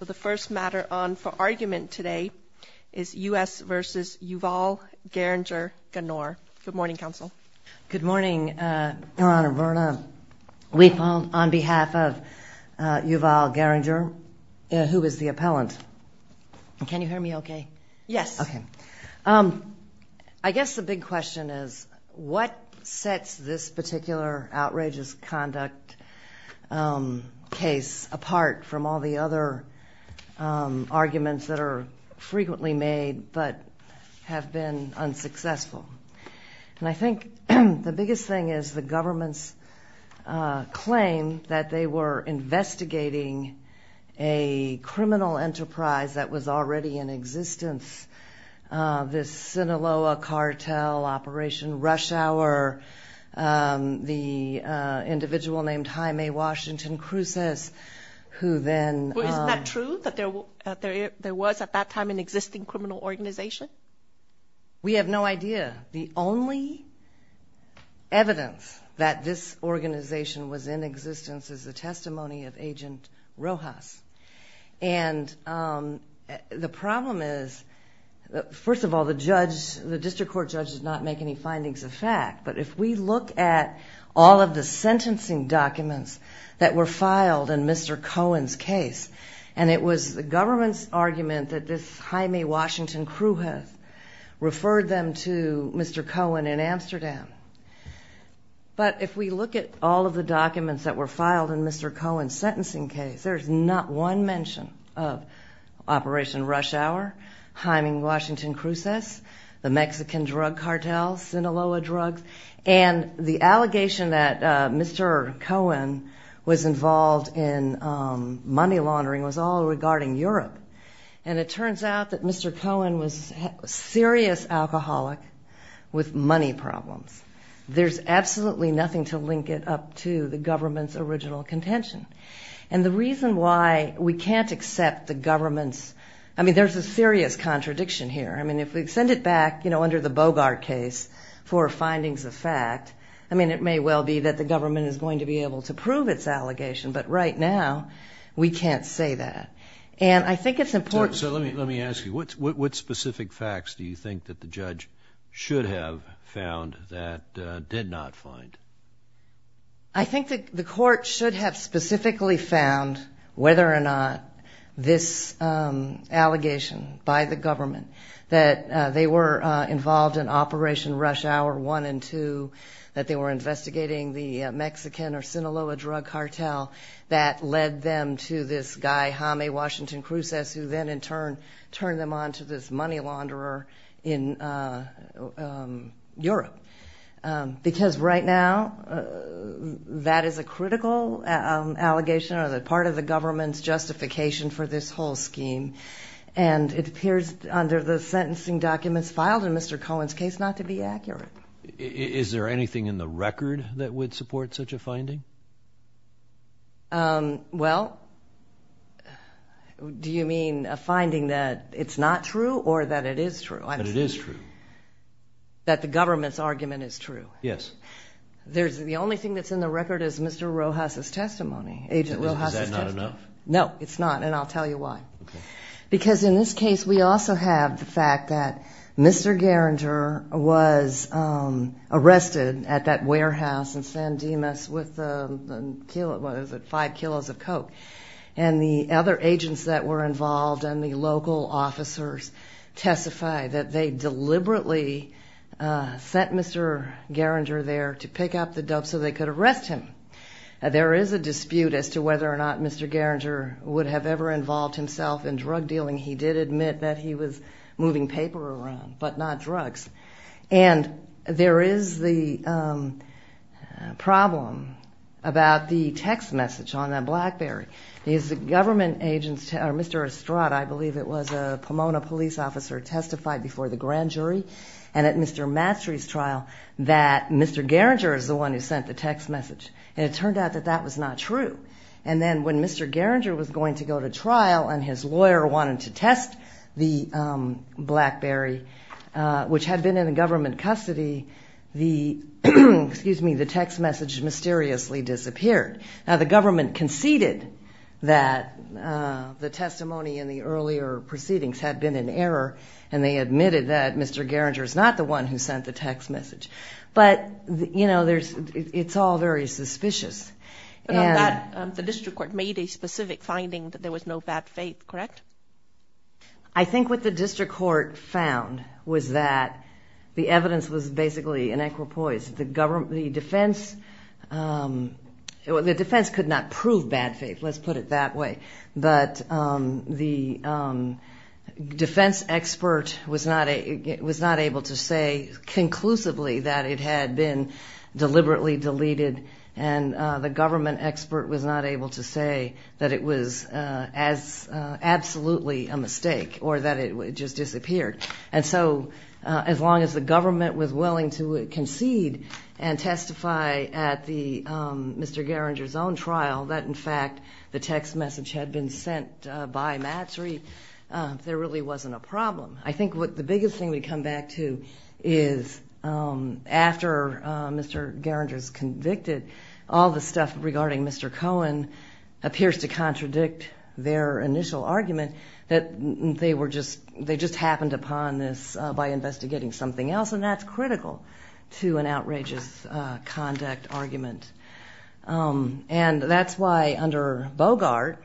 The first matter on for argument today is U.S. v. Youval Geringer-Ganor. Good morning, Counsel. Good morning, Your Honor. Verna Weeple on behalf of Youval Geringer, who is the appellant. Can you hear me okay? Yes. Okay. I guess the big question is what sets this particular outrageous conduct case apart from all the other arguments that are frequently made but have been unsuccessful? And I think the biggest thing is the government's claim that they were investigating a criminal enterprise that was already in existence, this Sinaloa cartel, Operation Rush Hour, the individual named Jaime Washington Cruces, who then- Well, isn't that true, that there was at that time an existing criminal organization? We have no idea. The only evidence that this organization was in existence is the testimony of Agent Rojas. And the problem is, first of all, the district court judge does not make any findings of fact. But if we look at all of the sentencing documents that were filed in Mr. Cohen's case, and it was the government's argument that this Jaime Washington Cruces referred them to Mr. Cohen in Amsterdam. But if we look at all of the documents that were filed in Mr. Cohen's sentencing case, there's not one mention of Operation Rush Hour, Jaime Washington Cruces, the Mexican drug cartel, Sinaloa drugs. And the allegation that Mr. Cohen was involved in money laundering was all regarding Europe. And it turns out that Mr. Cohen was a serious alcoholic with money problems. There's absolutely nothing to link it up to the government's original contention. And the reason why we can't accept the government's-I mean, there's a serious contradiction here. I mean, if we send it back, you know, under the Bogart case for findings of fact, I mean, it may well be that the government is going to be able to prove its allegation. But right now, we can't say that. And I think it's important- So let me ask you, what specific facts do you think that the judge should have found that did not find? I think that the court should have specifically found whether or not this allegation by the government, that they were involved in Operation Rush Hour 1 and 2, that they were investigating the Mexican or Sinaloa drug cartel, that led them to this guy, Jaime Washington Cruces, who then in turn turned them on to this money launderer in Europe. Because right now, that is a critical allegation or part of the government's justification for this whole scheme. And it appears under the sentencing documents filed in Mr. Cohen's case not to be accurate. Is there anything in the record that would support such a finding? Well, do you mean a finding that it's not true or that it is true? That it is true. That the government's argument is true? Yes. The only thing that's in the record is Mr. Rojas' testimony, Agent Rojas' testimony. Is that not enough? No, it's not, and I'll tell you why. Because in this case, we also have the fact that Mr. Garinger was arrested at that warehouse in San Dimas with 5 kilos of coke. And the other agents that were involved and the local officers testify that they deliberately sent Mr. Garinger there to pick up the dope so they could arrest him. There is a dispute as to whether or not Mr. Garinger would have ever involved himself in drug dealing. He did admit that he was moving paper around, but not drugs. And there is the problem about the text message on that BlackBerry. Mr. Estrada, I believe it was, a Pomona police officer testified before the grand jury and at Mr. Mastry's trial that Mr. Garinger is the one who sent the text message. And it turned out that that was not true. And then when Mr. Garinger was going to go to trial and his lawyer wanted to test the BlackBerry, which had been in government custody, the text message mysteriously disappeared. Now the government conceded that the testimony in the earlier proceedings had been in error and they admitted that Mr. Garinger is not the one who sent the text message. But, you know, it's all very suspicious. But on that, the district court made a specific finding that there was no bad faith, correct? I think what the district court found was that the evidence was basically an acropoise. The defense could not prove bad faith, let's put it that way. But the defense expert was not able to say conclusively that it had been deliberately deleted and the government expert was not able to say that it was absolutely a mistake or that it just disappeared. And so as long as the government was willing to concede and testify at Mr. Garinger's own trial, that in fact the text message had been sent by Matsry, there really wasn't a problem. I think the biggest thing we come back to is after Mr. Garinger is convicted, all the stuff regarding Mr. Cohen appears to contradict their initial argument that they just happened upon this by investigating something else, and that's critical to an outrageous conduct argument. And that's why under Bogart,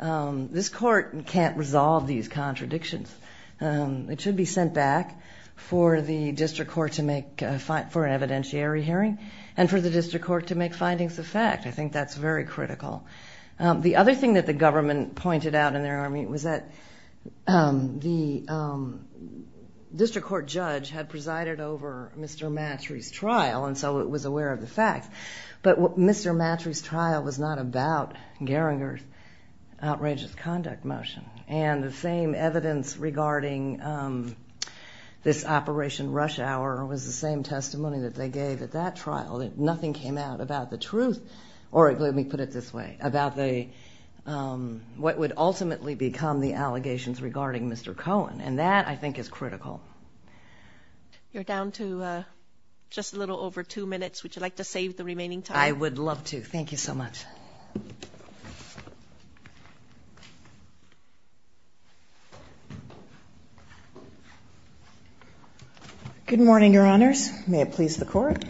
this court can't resolve these contradictions. It should be sent back for the district court to make an evidentiary hearing and for the district court to make findings of fact. I think that's very critical. The other thing that the government pointed out in their argument was that the district court judge had presided over Mr. Matsry's trial, and so it was aware of the facts. But Mr. Matsry's trial was not about Garinger's outrageous conduct motion. And the same evidence regarding this Operation Rush Hour was the same testimony that they gave at that trial. Nothing came out about the truth, or let me put it this way, about what would ultimately become the allegations regarding Mr. Cohen. And that, I think, is critical. You're down to just a little over two minutes. Would you like to save the remaining time? I would love to. Thank you so much. Good morning, Your Honors. May it please the Court.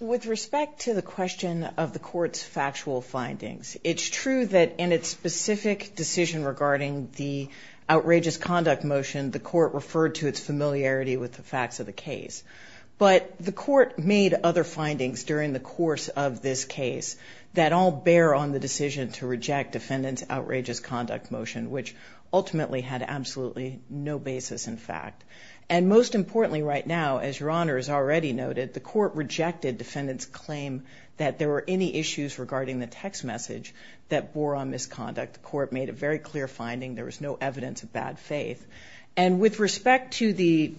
With respect to the question of the Court's factual findings, it's true that in its specific decision regarding the outrageous conduct motion, the Court referred to its familiarity with the facts of the case. But the Court made other findings during the course of this case that all bear on the decision to reject defendants' outrageous conduct motion, which ultimately had absolutely no basis in fact. And most importantly right now, as Your Honors already noted, the Court rejected defendants' claim that there were any issues regarding the text message that bore on misconduct. The Court made a very clear finding. There was no evidence of bad faith. And with respect to the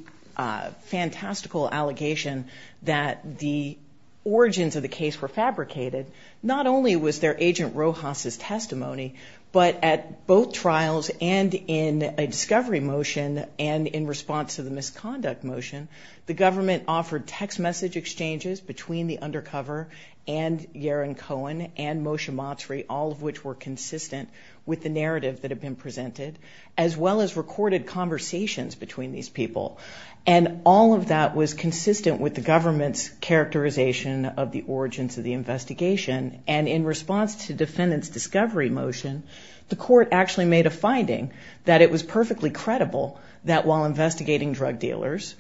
fantastical allegation that the origins of the case were fabricated, not only was there Agent Rojas' testimony, but at both trials and in a discovery motion and in response to the misconduct motion, the government offered text message exchanges between the undercover and Yaron Cohen and Moshe Matsuri, all of which were consistent with the narrative that had been presented, as well as recorded conversations between these people. And all of that was consistent with the government's characterization of the origins of the investigation. And in response to defendants' discovery motion, the Court actually made a finding that it was perfectly credible that while investigating drug dealers,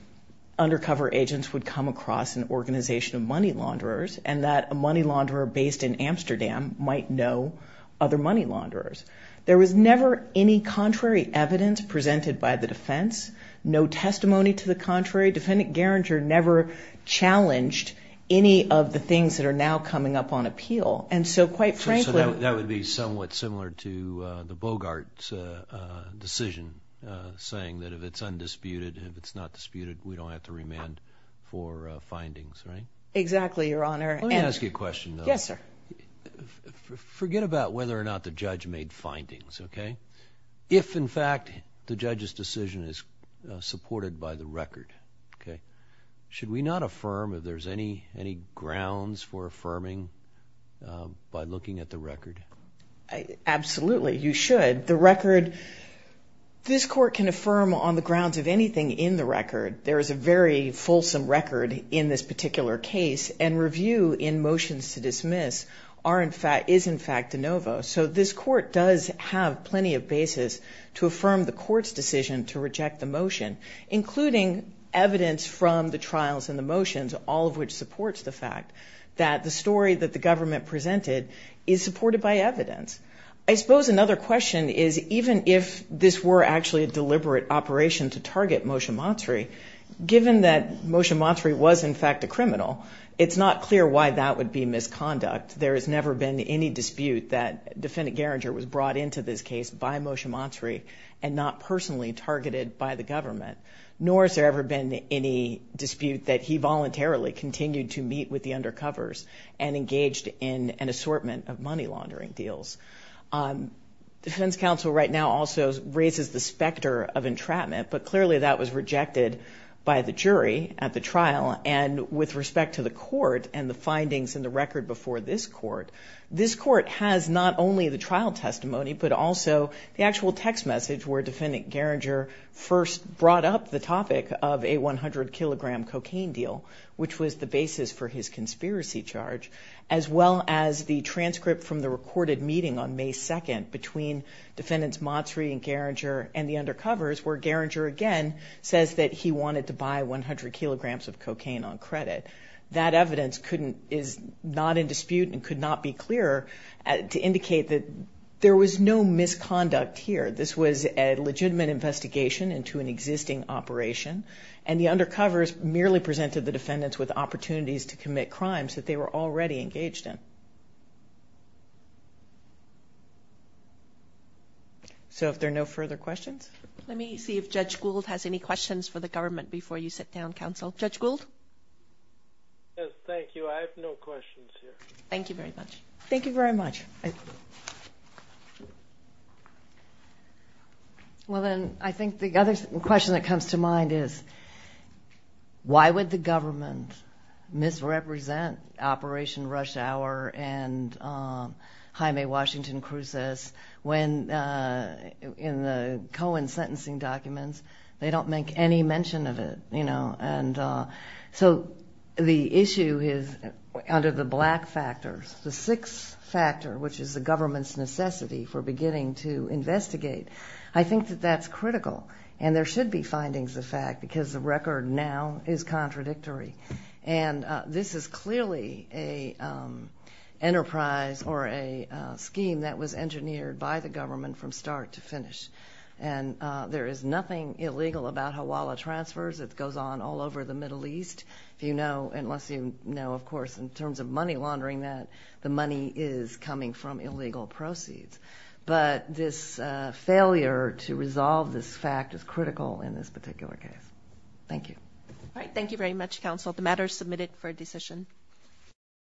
undercover agents would come across an organization of money launderers and that a money launderer based in Amsterdam might know other money launderers. There was never any contrary evidence presented by the defense, no testimony to the contrary. Defendant Gerringer never challenged any of the things that are now coming up on appeal. So that would be somewhat similar to the Bogart decision, saying that if it's undisputed, if it's not disputed, we don't have to remand for findings, right? Exactly, Your Honor. Let me ask you a question, though. Yes, sir. Forget about whether or not the judge made findings, okay? If, in fact, the judge's decision is supported by the record, okay, should we not affirm if there's any grounds for affirming by looking at the record? Absolutely, you should. The record, this Court can affirm on the grounds of anything in the record. There is a very fulsome record in this particular case, and review in motions to dismiss is, in fact, de novo. So this Court does have plenty of basis to affirm the Court's decision to reject the motion, including evidence from the trials and the motions, all of which supports the fact that the story that the government presented is supported by evidence. I suppose another question is, even if this were actually a deliberate operation to target Moshe Matsuri, given that Moshe Matsuri was, in fact, a criminal, it's not clear why that would be misconduct. There has never been any dispute that Defendant Gerringer was brought into this case by Moshe Matsuri and not personally targeted by the government, nor has there ever been any dispute that he voluntarily continued to meet with the undercovers and engaged in an assortment of money laundering deals. The defense counsel right now also raises the specter of entrapment, but clearly that was rejected by the jury at the trial, and with respect to the Court and the findings in the record before this Court, this Court has not only the trial testimony but also the actual text message where Defendant Gerringer first brought up the topic of a 100-kilogram cocaine deal, which was the basis for his conspiracy charge, as well as the transcript from the recorded meeting on May 2nd between Defendants Matsuri and Gerringer and the undercovers, where Gerringer again says that he wanted to buy 100 kilograms of cocaine on credit. That evidence is not in dispute and could not be clearer to indicate that there was no misconduct here. This was a legitimate investigation into an existing operation, and the undercovers merely presented the defendants with opportunities to commit crimes that they were already engaged in. So if there are no further questions? Let me see if Judge Gould has any questions for the government before you sit down, Counsel. Judge Gould? Yes, thank you. I have no questions here. Thank you very much. Thank you very much. I think the other question that comes to mind is, why would the government misrepresent Operation Rush Hour and Jaime Washington Cruz's when in the Cohen sentencing documents they don't make any mention of it, you know? And so the issue is under the black factors, the sixth factor, which is the government's necessity for beginning to investigate. I think that that's critical, and there should be findings of fact, because the record now is contradictory. And this is clearly an enterprise or a scheme that was engineered by the government from start to finish. And there is nothing illegal about Hawala transfers. It goes on all over the Middle East, unless you know, of course, in terms of money laundering that the money is coming from illegal proceeds. But this failure to resolve this fact is critical in this particular case. Thank you. All right. Thank you very much, counsel. The matter is submitted for decision.